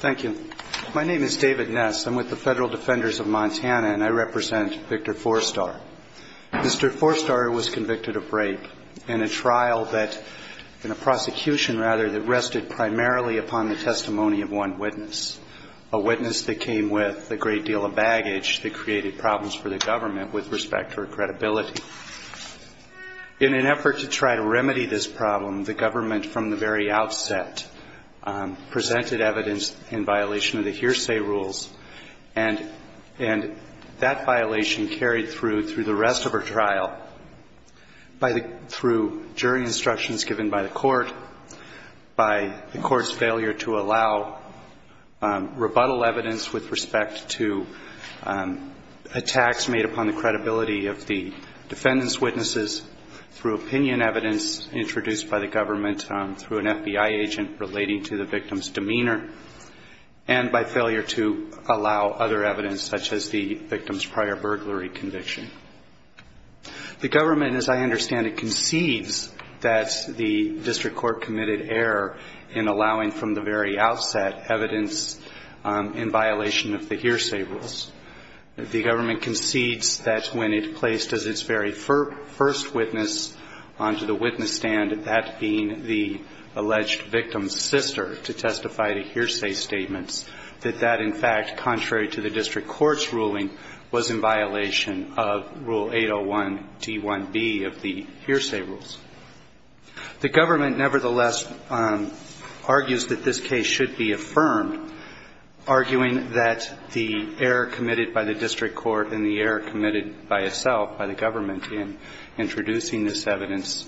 Thank you. My name is David Ness. I'm with the Federal Defenders of Montana and I represent Victor Fourstar. Mr. Fourstar was convicted of rape in a trial that, in a prosecution rather, that rested primarily upon the testimony of one witness, a witness that came with a great deal of baggage that created problems for the government with respect to her credibility. In an effort to try to remedy this problem, the government from the very outset presented evidence in violation of the hearsay rules, and that violation was carried through the rest of her trial through jury instructions given by the court, by the court's failure to allow rebuttal evidence with respect to attacks made upon the credibility of the defendant's witnesses, through opinion evidence introduced by the government through an FBI agent relating to the victim's demeanor, and by failure to allow other evidence such as the victim's prior burglary. The government, as I understand it, concedes that the district court committed error in allowing from the very outset evidence in violation of the hearsay rules. The government concedes that when it placed as its very first witness onto the witness stand, that being the alleged victim's sister, to testify to hearsay statements, that that, in fact, contrary to the district court's ruling, was in violation of the hearsay rules. The government, nevertheless, argues that this case should be affirmed, arguing that the error committed by the district court and the error committed by itself, by the government in introducing this evidence,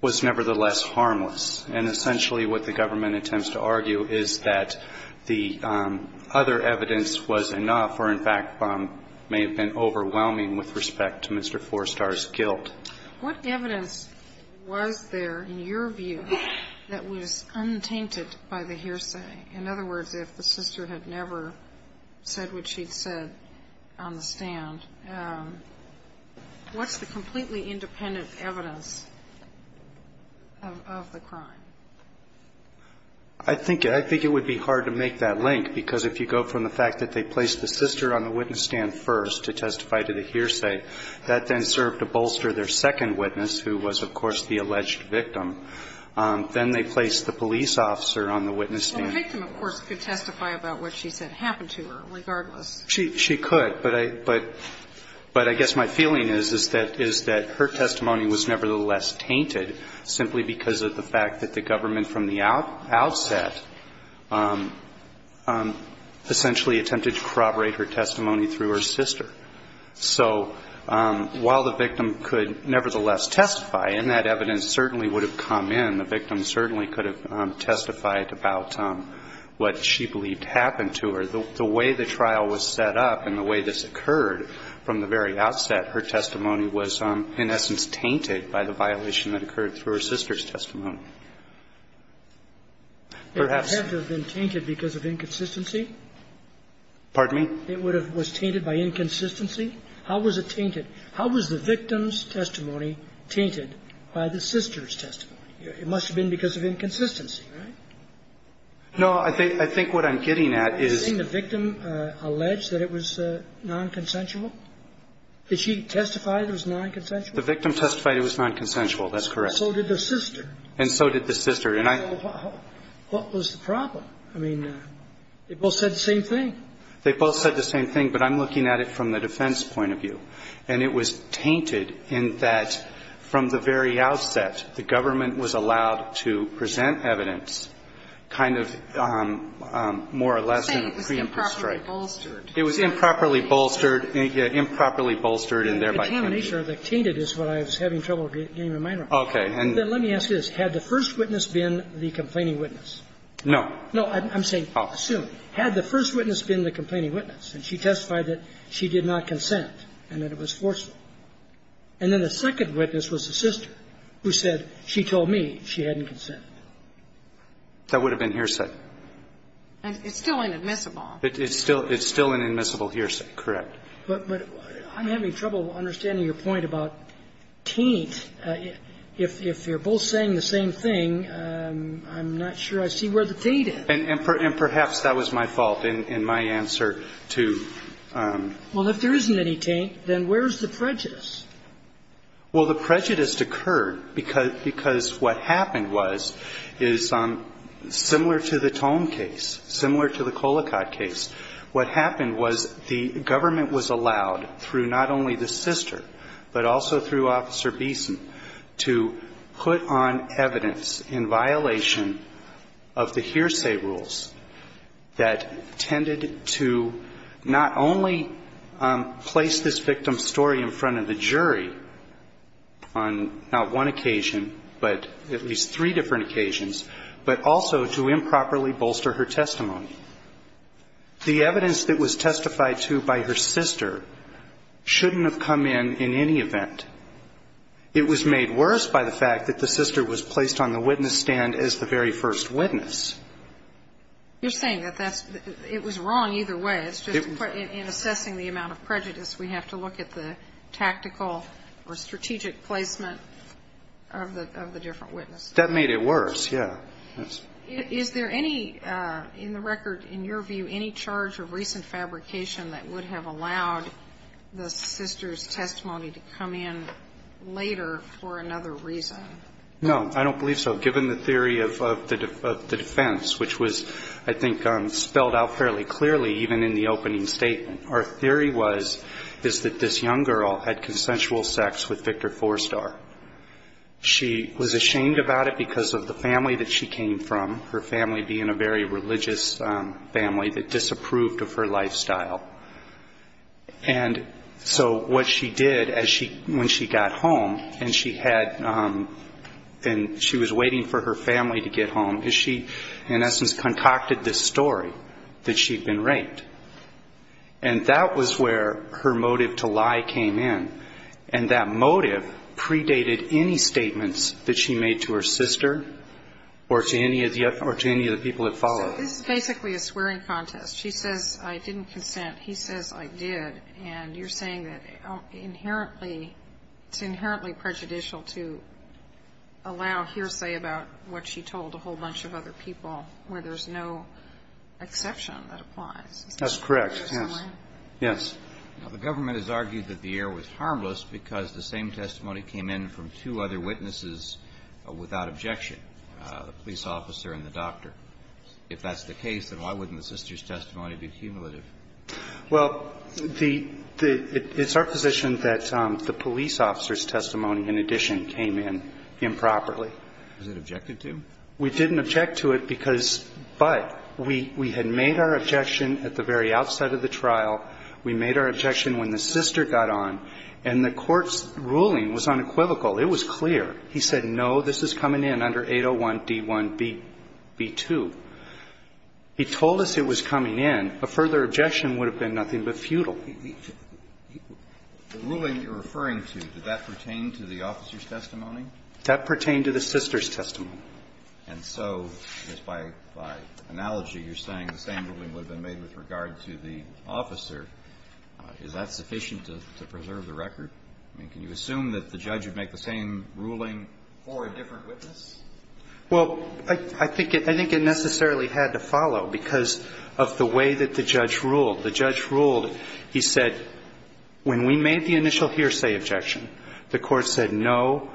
was nevertheless harmless, and essentially what the government attempts to argue is that the other evidence was enough, or, in fact, was sufficient, in order for the district court to be able to determine whether or not it was in violation of the hearsay rules. And I think that the government's decision to put the sister on the witness stand, as it were, may have been overwhelming with respect to Mr. Forestar's guilt. What evidence was there, in your view, that was untainted by the hearsay? In other words, if the sister had never said what she'd said on the stand, what's the completely independent evidence of the crime? I think it would be hard to make that link, because if you go from the fact that they placed the sister on the witness stand first to testify to the hearsay, that then served to bolster their second witness, who was, of course, the alleged victim. Then they placed the police officer on the witness stand. Well, the victim, of course, could testify about what she said happened to her, regardless. She could. But I guess my feeling is that her testimony was nevertheless tainted, simply because of the fact that the government, from the outset, essentially attempted to corroborate her testimony through her sister. So while the victim could nevertheless testify, and that evidence certainly would have come in, the victim certainly could have testified about what she believed happened to her. The way the trial was set up and the way this occurred from the very outset, her testimony was, in essence, tainted by the violation that occurred through her sister's testimony. Perhaps. It would have to have been tainted because of inconsistency? Pardon me? It would have been tainted by inconsistency? How was it tainted? How was the victim's testimony tainted by the sister's testimony? It must have been because of inconsistency, right? No. I think what I'm getting at is... Didn't the victim allege that it was nonconsensual? Did she testify that it was nonconsensual? The victim testified it was nonconsensual. That's correct. And so did the sister. And so did the sister. And I... So what was the problem? I mean, they both said the same thing. They both said the same thing, but I'm looking at it from the defense point of view. And it was tainted in that, from the very outset, the government was allowed to present evidence kind of more or less in a preemptive strike. You're saying it was improperly bolstered. It was improperly bolstered, improperly bolstered, and thereby tainted. The contamination of the tainted is what I was having trouble getting my mind around. Okay. And... Then let me ask you this. Had the first witness been the complaining witness? No. No. I'm saying... I'll assume. Had the first witness been the complaining witness, and she testified that she did not consent and that it was forceful, and then the second witness was the sister who said, she told me she hadn't consented? That would have been hearsay. It's still inadmissible. It's still an admissible hearsay, correct. But I'm having trouble understanding your point about taint. If they're both saying the same thing, I'm not sure I see where the taint is. And perhaps that was my fault in my answer to... Well, if there isn't any taint, then where's the prejudice? Well, the prejudice occurred because what happened was, is similar to the Tome case, similar to the Colicott case. What happened was the government was allowed, through not only the sister, but also through Officer Beeson, to put on evidence in violation of the hearsay rules that tended to not only place this victim's story in front of the jury on not one occasion, but at least three different occasions, but also to improperly bolster her testimony. The evidence that was testified to by her sister shouldn't have come in in any event. It was made worse by the fact that the sister was placed on the witness stand as the very first witness. You're saying that that's the – it was wrong either way. It's just in assessing the amount of prejudice, we have to look at the tactical or strategic placement of the different witnesses. That made it worse, yes. Is there any, in the record, in your view, any charge of recent fabrication that would have allowed the sister's testimony to come in later for another reason? No. I don't believe so. Given the theory of the defense, which was, I think, spelled out fairly clearly even in the opening statement, our theory was that this young girl had consensual sex with Victor Forstar. She was ashamed about it because of the family that she came from, her family being a very religious family, that disapproved of her lifestyle. And so what she did as she – when she got home and she had – and she was waiting for her family to get home, is she, in essence, concocted this story that she'd been raped. And that was where her motive to lie came in. And that motive predated any statements that she made to her sister or to any of the people that followed. So this is basically a swearing contest. She says, I didn't consent. He says, I did. And you're saying that inherently – it's inherently prejudicial to allow hearsay about what she told a whole bunch of other people where there's no exception that applies. That's correct. Yes. Yes. The government has argued that the error was harmless because the same testimony came in from two other witnesses without objection, the police officer and the doctor. If that's the case, then why wouldn't the sister's testimony be cumulative? Well, the – it's our position that the police officer's testimony, in addition, came in improperly. Was it objected to? We didn't object to it because – but we had made our objection at the very outside of the trial. We made our objection when the sister got on. And the court's ruling was unequivocal. It was clear. He said, no, this is coming in under 801D1B2. He told us it was coming in. A further objection would have been nothing but futile. The ruling you're referring to, did that pertain to the officer's testimony? That pertained to the sister's testimony. And so, just by analogy, you're saying the same ruling would have been made with regard to the officer. Is that sufficient to preserve the record? I mean, can you assume that the judge would make the same ruling for a different witness? Well, I think it necessarily had to follow because of the way that the judge ruled. The judge ruled. He said, when we made the initial hearsay objection, the court said, no,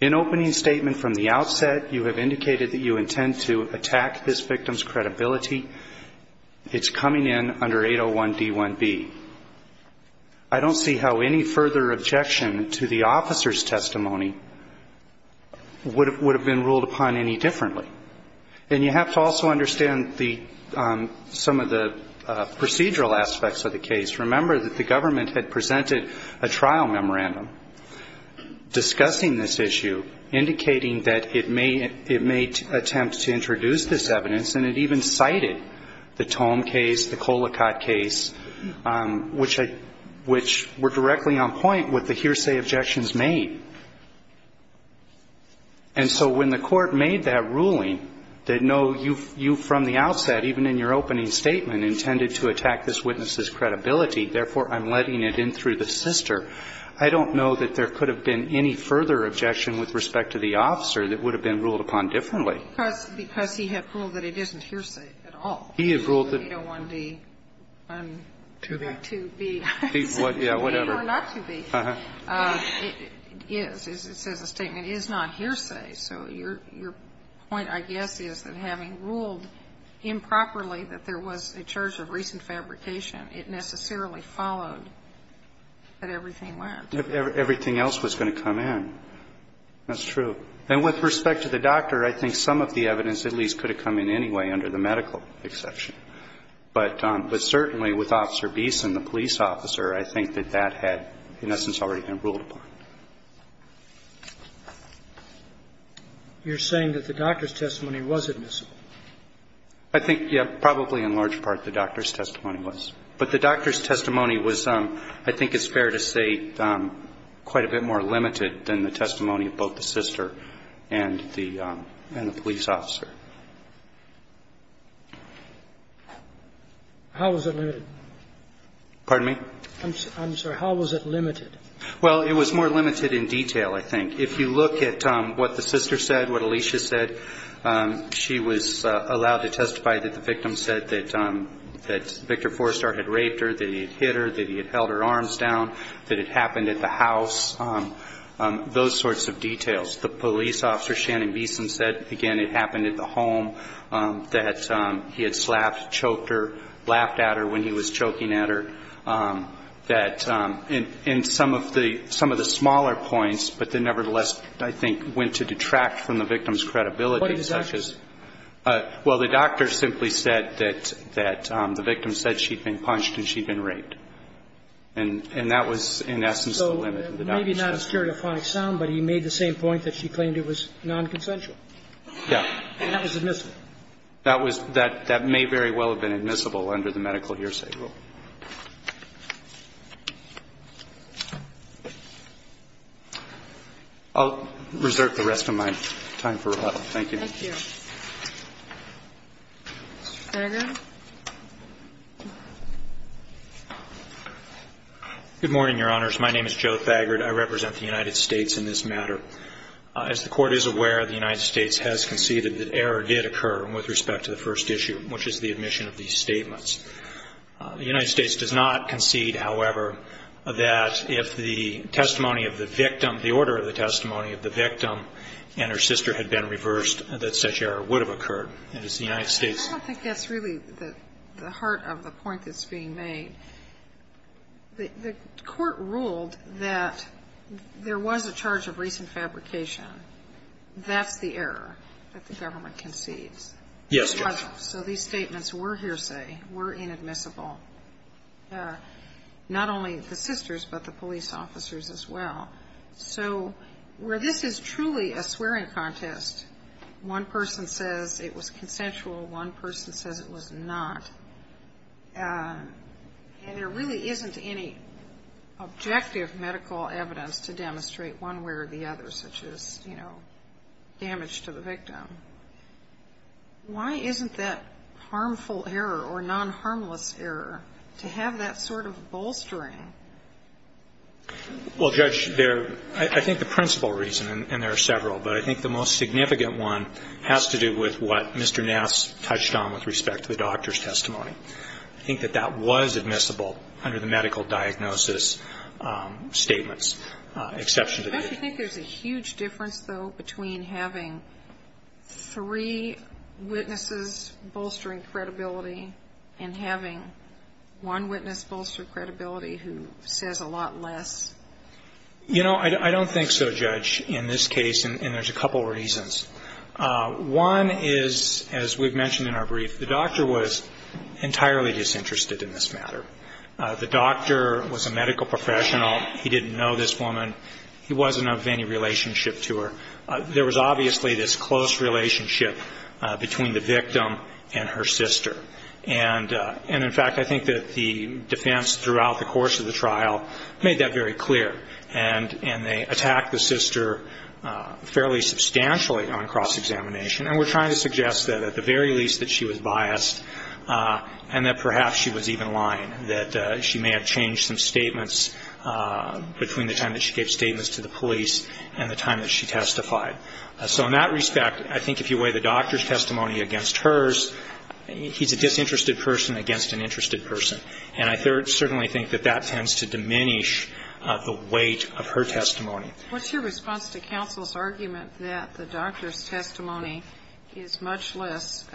in opening statement from the outset, you have indicated that you intend to attack this victim's credibility. It's coming in under 801D1B. I don't see how any further objection to the officer's testimony would have been ruled upon any differently. And you have to also understand some of the procedural aspects of the case. Remember that the government had presented a trial memorandum discussing this issue, indicating that it may attempt to introduce this evidence, and it even cited the Tome case, the Colicotte case, which were directly on point with the hearsay objections made. And so when the court made that ruling that, no, you from the outset, even in your opening statement, intended to attack this witness's credibility, therefore, I'm letting it in through the sister, I don't know that there could have been any further objection with respect to the officer that would have been ruled upon differently. Because he had ruled that it isn't hearsay at all. He had ruled that 801D2B. Yeah, whatever. It is. It says the statement is not hearsay. So your point, I guess, is that having ruled improperly that there was a charge of recent fabrication, it necessarily followed that everything went. Everything else was going to come in. That's true. And with respect to the doctor, I think some of the evidence at least could have come in anyway under the medical exception. But certainly with Officer Beeson, the police officer, I think that that had in essence already been ruled upon. You're saying that the doctor's testimony was admissible? I think, yeah, probably in large part the doctor's testimony was. But the doctor's testimony was, I think it's fair to say, quite a bit more limited than the testimony of both the sister and the police officer. How was it limited? Pardon me? I'm sorry. How was it limited? Well, it was more limited in detail, I think. If you look at what the sister said, what Alicia said, she was allowed to testify that the victim said that Victor Forestar had raped her, that he had hit her, that it happened at the house, those sorts of details. The police officer, Shannon Beeson, said, again, it happened at the home, that he had slapped, choked her, laughed at her when he was choking at her. And some of the smaller points, but they nevertheless, I think, went to detract from the victim's credibility. What did the doctor say? Well, the doctor simply said that the victim said she'd been punched and she'd been raped. And that was, in essence, the limit of the doctor's testimony. So maybe not a stereophonic sound, but he made the same point that she claimed it was nonconsensual. Yeah. And that was admissible. That was that may very well have been admissible under the medical hearsay rule. I'll reserve the rest of my time for rebuttal. Thank you. Thank you. Mr. Thagard. Good morning, Your Honors. My name is Joe Thagard. I represent the United States in this matter. As the Court is aware, the United States has conceded that error did occur with respect to the first issue, which is the admission of these statements. The United States does not concede, however, that if the testimony of the victim, the order of the testimony of the victim, and her sister had been reversed, that such error would have occurred. And as the United States ---- I don't think that's really the heart of the point that's being made. The Court ruled that there was a charge of recent fabrication. That's the error that the government concedes. Yes. So these statements were hearsay, were inadmissible. Not only the sisters, but the police officers as well. So where this is truly a swearing contest, one person says it was consensual, one person says it was not, and there really isn't any objective medical evidence to demonstrate one way or the other, such as, you know, damage to the victim. Why isn't that harmful error or non-harmless error to have that sort of bolstering? Well, Judge, there ---- I think the principal reason, and there are several, but I think the most significant one has to do with what Mr. Nass touched on with respect to the doctor's testimony. I think that that was admissible under the medical diagnosis statements, exception to the ---- I actually think there's a huge difference, though, between having three witnesses bolstering credibility and having one witness bolster credibility who says a lot less. You know, I don't think so, Judge, in this case, and there's a couple reasons. One is, as we've mentioned in our brief, the doctor was entirely disinterested in this matter. The doctor was a medical professional. He didn't know this woman. He wasn't of any relationship to her. There was obviously this close relationship between the victim and her sister. And, in fact, I think that the defense throughout the course of the trial made that very clear, and they attacked the sister fairly substantially on cross-examination. And we're trying to suggest that at the very least that she was biased and that perhaps she was even lying, that she may have changed some statements between the time that she gave statements to the police and the time that she testified. So in that respect, I think if you weigh the doctor's testimony against hers, he's a disinterested person against an interested person. And I certainly think that that tends to diminish the weight of her testimony. What's your response to counsel's argument that the doctor's testimony is much less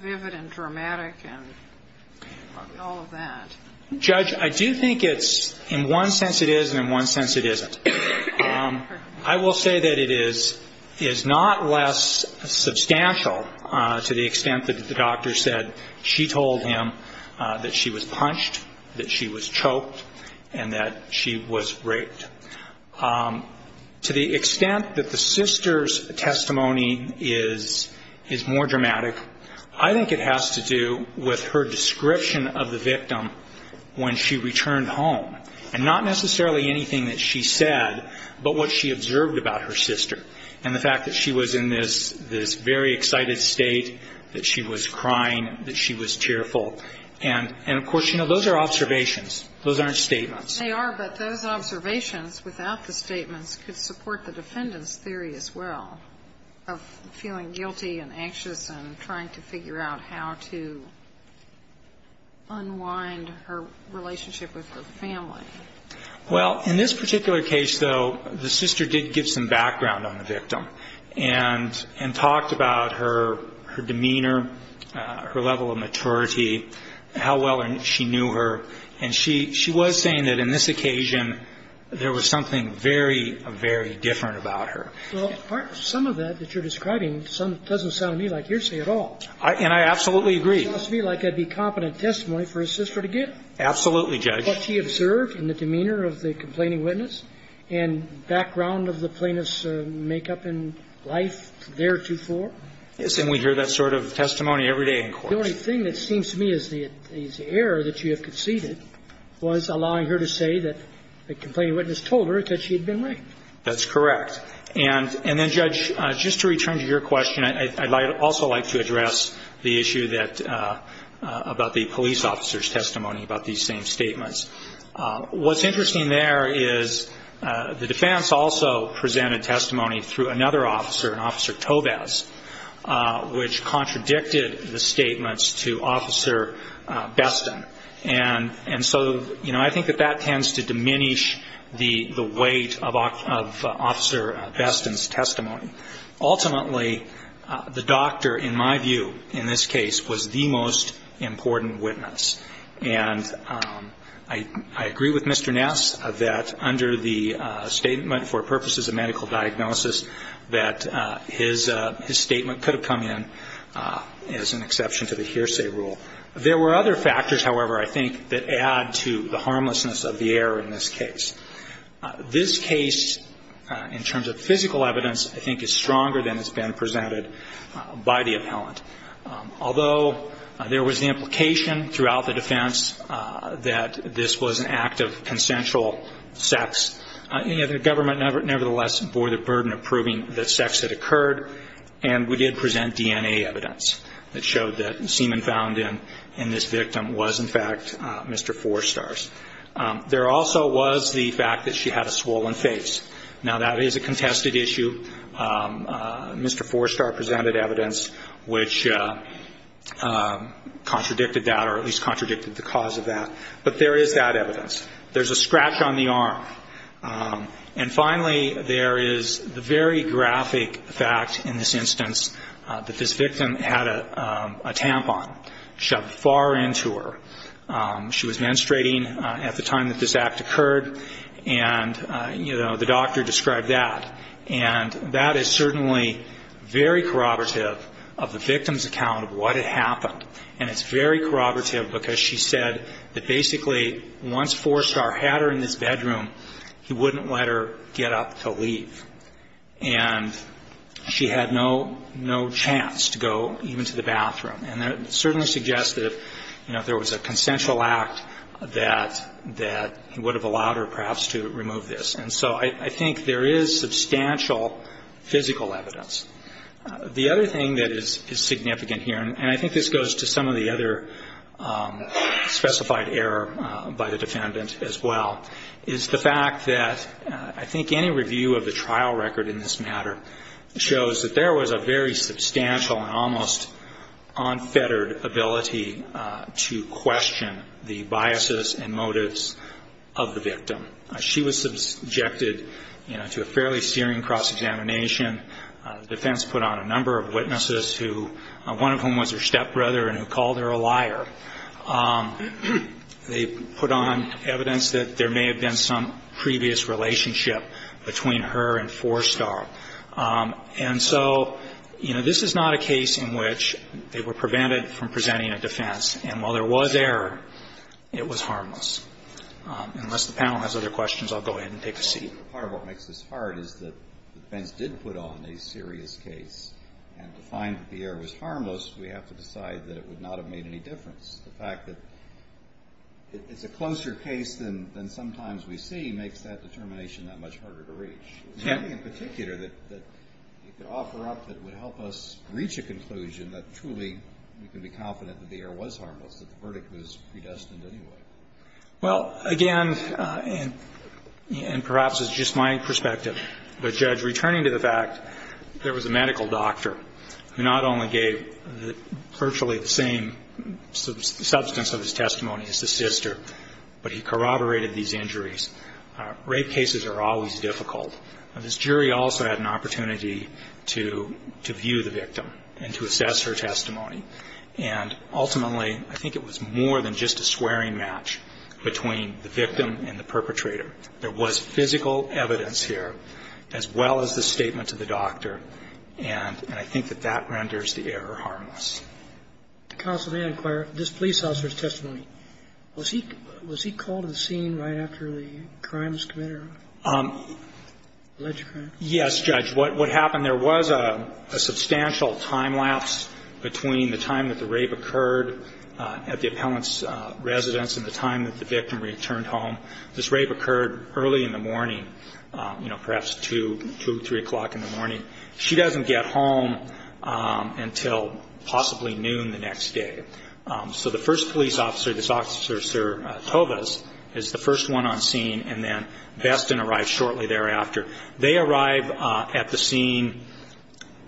vivid and dramatic and all of that? Judge, I do think it's in one sense it is and in one sense it isn't. I will say that it is not less substantial to the extent that the doctor said she told him that she was punched, that she was choked, and that she was raped. To the extent that the sister's testimony is more dramatic, I think it has to do with her description of the victim when she returned home, and not necessarily anything that she said, but what she observed about her sister and the fact that she was in this very excited state, that she was crying, that she was cheerful. And, of course, you know, those are observations. Those aren't statements. They are, but those observations without the statements could support the defendant's theory as well of feeling guilty and anxious and trying to figure out how to unwind her relationship with her family. Well, in this particular case, though, the sister did give some background on the victim and talked about her demeanor, her level of maturity, how well she knew her. And she was saying that in this occasion there was something very, very different about her. Well, some of that that you're describing doesn't sound to me like hearsay at all. And I absolutely agree. It sounds to me like it would be competent testimony for a sister to give. Absolutely, Judge. What she observed and the demeanor of the complaining witness and background of the plaintiff's makeup in life theretofore. Yes. And we hear that sort of testimony every day in court. The only thing that seems to me is the error that you have conceded was allowing her to say that the complaining witness told her that she had been raped. That's correct. And then, Judge, just to return to your question, I'd also like to address the issue about the police officer's testimony about these same statements. What's interesting there is the defense also presented testimony through another officer, Officer Tovez, which contradicted the statements to Officer Bestin. And so, you know, I think that that tends to diminish the weight of Officer Bestin's testimony. Ultimately, the doctor, in my view, in this case, was the most important witness. And I agree with Mr. Ness that under the statement for purposes of medical diagnosis, that his statement could have come in as an exception to the hearsay rule. There were other factors, however, I think, that add to the harmlessness of the error in this case. This case, in terms of physical evidence, I think is stronger than has been presented by the appellant. Although there was the implication throughout the defense that this was an act of consensual sex, the government nevertheless bore the burden of proving that sex had occurred, and we did present DNA evidence that showed that the semen found in this victim was, in fact, Mr. Forstar's. There also was the fact that she had a swollen face. Now, that is a contested issue. Mr. Forstar presented evidence which contradicted that or at least contradicted the cause of that. But there is that evidence. There's a scratch on the arm. And finally, there is the very graphic fact in this instance that this victim had a tampon shoved far into her. She was menstruating at the time that this act occurred, and, you know, the doctor described that. And that is certainly very corroborative of the victim's account of what had happened, and it's very corroborative because she said that basically once Forstar had her in this bedroom, he wouldn't let her get up to leave. And she had no chance to go even to the bathroom. And that certainly suggests that, you know, if there was a consensual act, that he would have allowed her perhaps to remove this. And so I think there is substantial physical evidence. The other thing that is significant here, and I think this goes to some of the other specified error by the defendant as well, is the fact that I think any review of the trial record in this matter shows that there was a very substantial and almost unfettered ability to question the biases and motives of the victim. She was subjected, you know, to a fairly steering cross-examination. The defense put on a number of witnesses, one of whom was her stepbrother and who called her a liar. They put on evidence that there may have been some previous relationship between her and Forstar. And so, you know, this is not a case in which they were prevented from presenting a defense. And while there was error, it was harmless. Unless the panel has other questions, I'll go ahead and take a seat. Part of what makes this hard is that the defense did put on a serious case. And to find that the error was harmless, we have to decide that it would not have made any difference. The fact that it's a closer case than sometimes we see makes that determination that much harder to reach. There's nothing in particular that you could offer up that would help us reach a conclusion that truly we can be confident that the error was harmless, that the verdict was predestined anyway. Well, again, and perhaps it's just my perspective, but, Judge, returning to the fact, there was a medical doctor who not only gave virtually the same substance of his testimony as his sister, but he corroborated these injuries. Rape cases are always difficult. This jury also had an opportunity to view the victim and to assess her testimony. And ultimately, I think it was more than just a swearing match between the victim and the perpetrator. There was physical evidence here as well as the statement to the doctor. And I think that that renders the error harmless. Counsel, may I inquire, this police officer's testimony, was he called to the scene right after the crime was committed? Yes, Judge. What happened, there was a substantial time lapse between the time that the rape occurred at the appellant's residence and the time that the victim returned home. This rape occurred early in the morning, you know, perhaps 2, 2, 3 o'clock in the morning. She doesn't get home until possibly noon the next day. So the first police officer, this officer, Sir Tovas, is the first one on scene, and then Beston arrives shortly thereafter. They arrive at the scene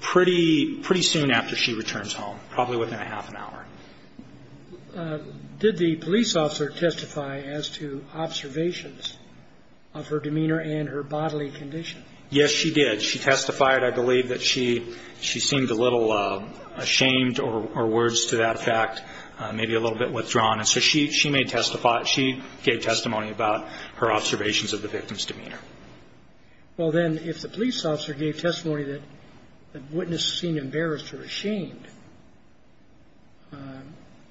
pretty soon after she returns home, probably within a half an hour. Did the police officer testify as to observations of her demeanor and her bodily condition? Yes, she did. She testified. I believe that she seemed a little ashamed or, words to that effect, maybe a little bit withdrawn. And so she made testimony. She gave testimony about her observations of the victim's demeanor. Well, then, if the police officer gave testimony that the witness seemed embarrassed or ashamed,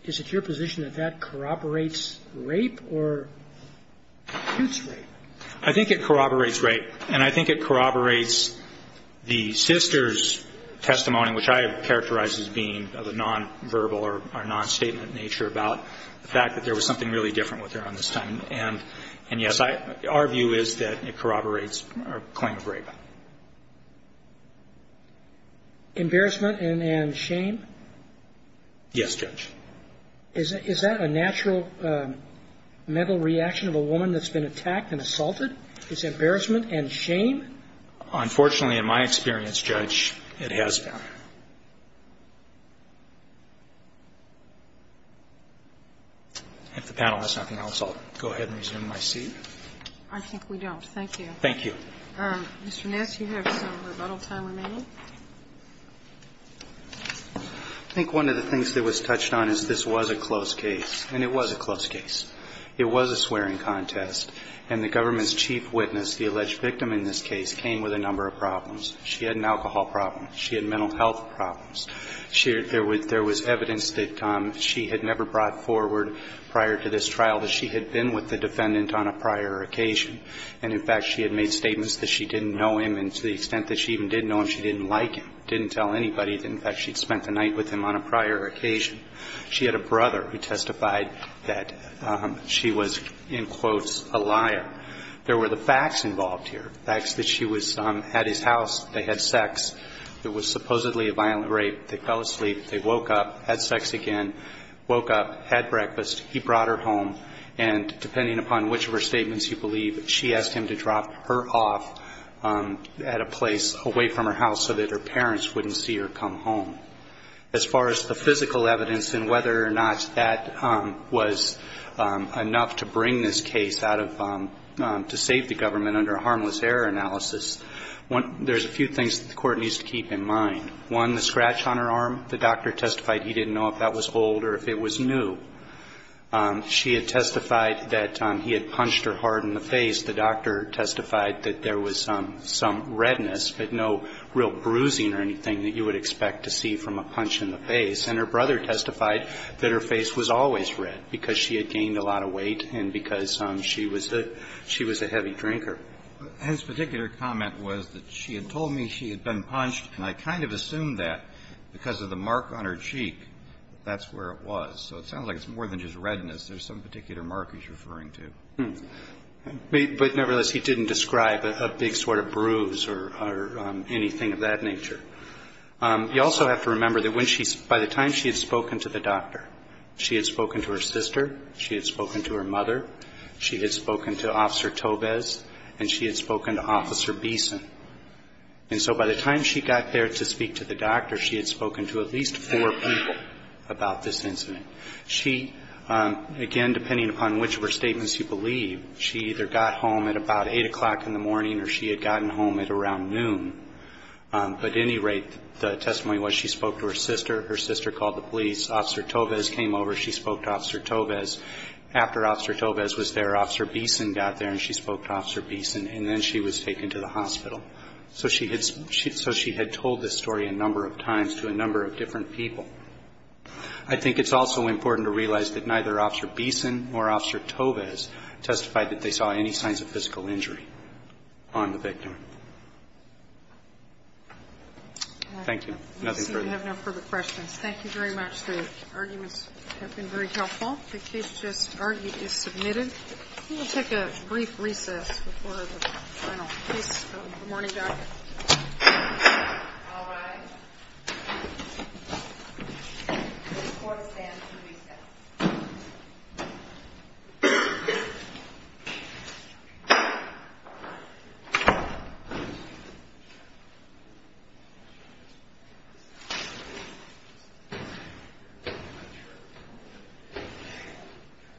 is it your position that that corroborates rape or shoots rape? I think it corroborates rape. And I think it corroborates the sister's testimony, which I have characterized as being of a nonverbal or nonstatement nature, about the fact that there was something really different with her on this time. And, yes, our view is that it corroborates a claim of rape. Embarrassment and shame? Yes, Judge. Is that a natural mental reaction of a woman that's been attacked and assaulted? Is embarrassment and shame? Unfortunately, in my experience, Judge, it has been. If the panel has nothing else, I'll go ahead and resume my seat. I think we don't. Thank you. Thank you. Mr. Nass, you have some rebuttal time remaining. I think one of the things that was touched on is this was a close case, and it was a close case. It was a swearing contest, and the government's chief witness, the alleged victim in this case, came with a number of problems. She had an alcohol problem. She had mental health problems. There was evidence that she had never brought forward prior to this trial that she had been with the defendant on a prior occasion. And, in fact, she had made statements that she didn't know him, and to the extent that she even did know him, she didn't like him, didn't tell anybody. In fact, she'd spent the night with him on a prior occasion. She had a brother who testified that she was, in quotes, a liar. There were the facts involved here, facts that she was at his house. They had sex. It was supposedly a violent rape. They fell asleep. They woke up, had sex again, woke up, had breakfast. He brought her home, and depending upon which of her statements you believe, she asked him to drop her off at a place away from her house so that her parents wouldn't see her come home. As far as the physical evidence and whether or not that was enough to bring this case out of to save the government under a harmless error analysis, there's a few things that the court needs to keep in mind. One, the scratch on her arm. The doctor testified he didn't know if that was old or if it was new. She had testified that he had punched her hard in the face. The doctor testified that there was some redness, but no real bruising or anything that you would expect to see from a punch in the face. And her brother testified that her face was always red because she had gained a lot of weight and because she was a heavy drinker. Kennedy. His particular comment was that she had told me she had been punched, and I kind of assumed that because of the mark on her cheek, that's where it was. So it sounds like it's more than just redness. There's some particular mark he's referring to. But nevertheless, he didn't describe a big sort of bruise or anything of that nature. You also have to remember that by the time she had spoken to the doctor, she had spoken to her sister, she had spoken to her mother, she had spoken to Officer Tobes, and she had spoken to Officer Beeson. And so by the time she got there to speak to the doctor, she had spoken to at least four people about this incident. She, again, depending upon which of her statements you believe, she either got home at about 8 o'clock in the morning or she had gotten home at around noon. But at any rate, the testimony was she spoke to her sister, her sister called the police, Officer Tobes came over, she spoke to Officer Tobes. After Officer Tobes was there, Officer Beeson got there and she spoke to Officer Beeson, and then she was taken to the hospital. So she had told this story a number of times to a number of different people. I think it's also important to realize that neither Officer Beeson or Officer Tobes testified that they saw any signs of physical injury on the victim. Thank you. Nothing further. I see we have no further questions. Thank you very much. The arguments have been very helpful. The case just argued is submitted. We'll take a brief recess before the final case. Good morning, Doctor. All rise. Court stands to recess.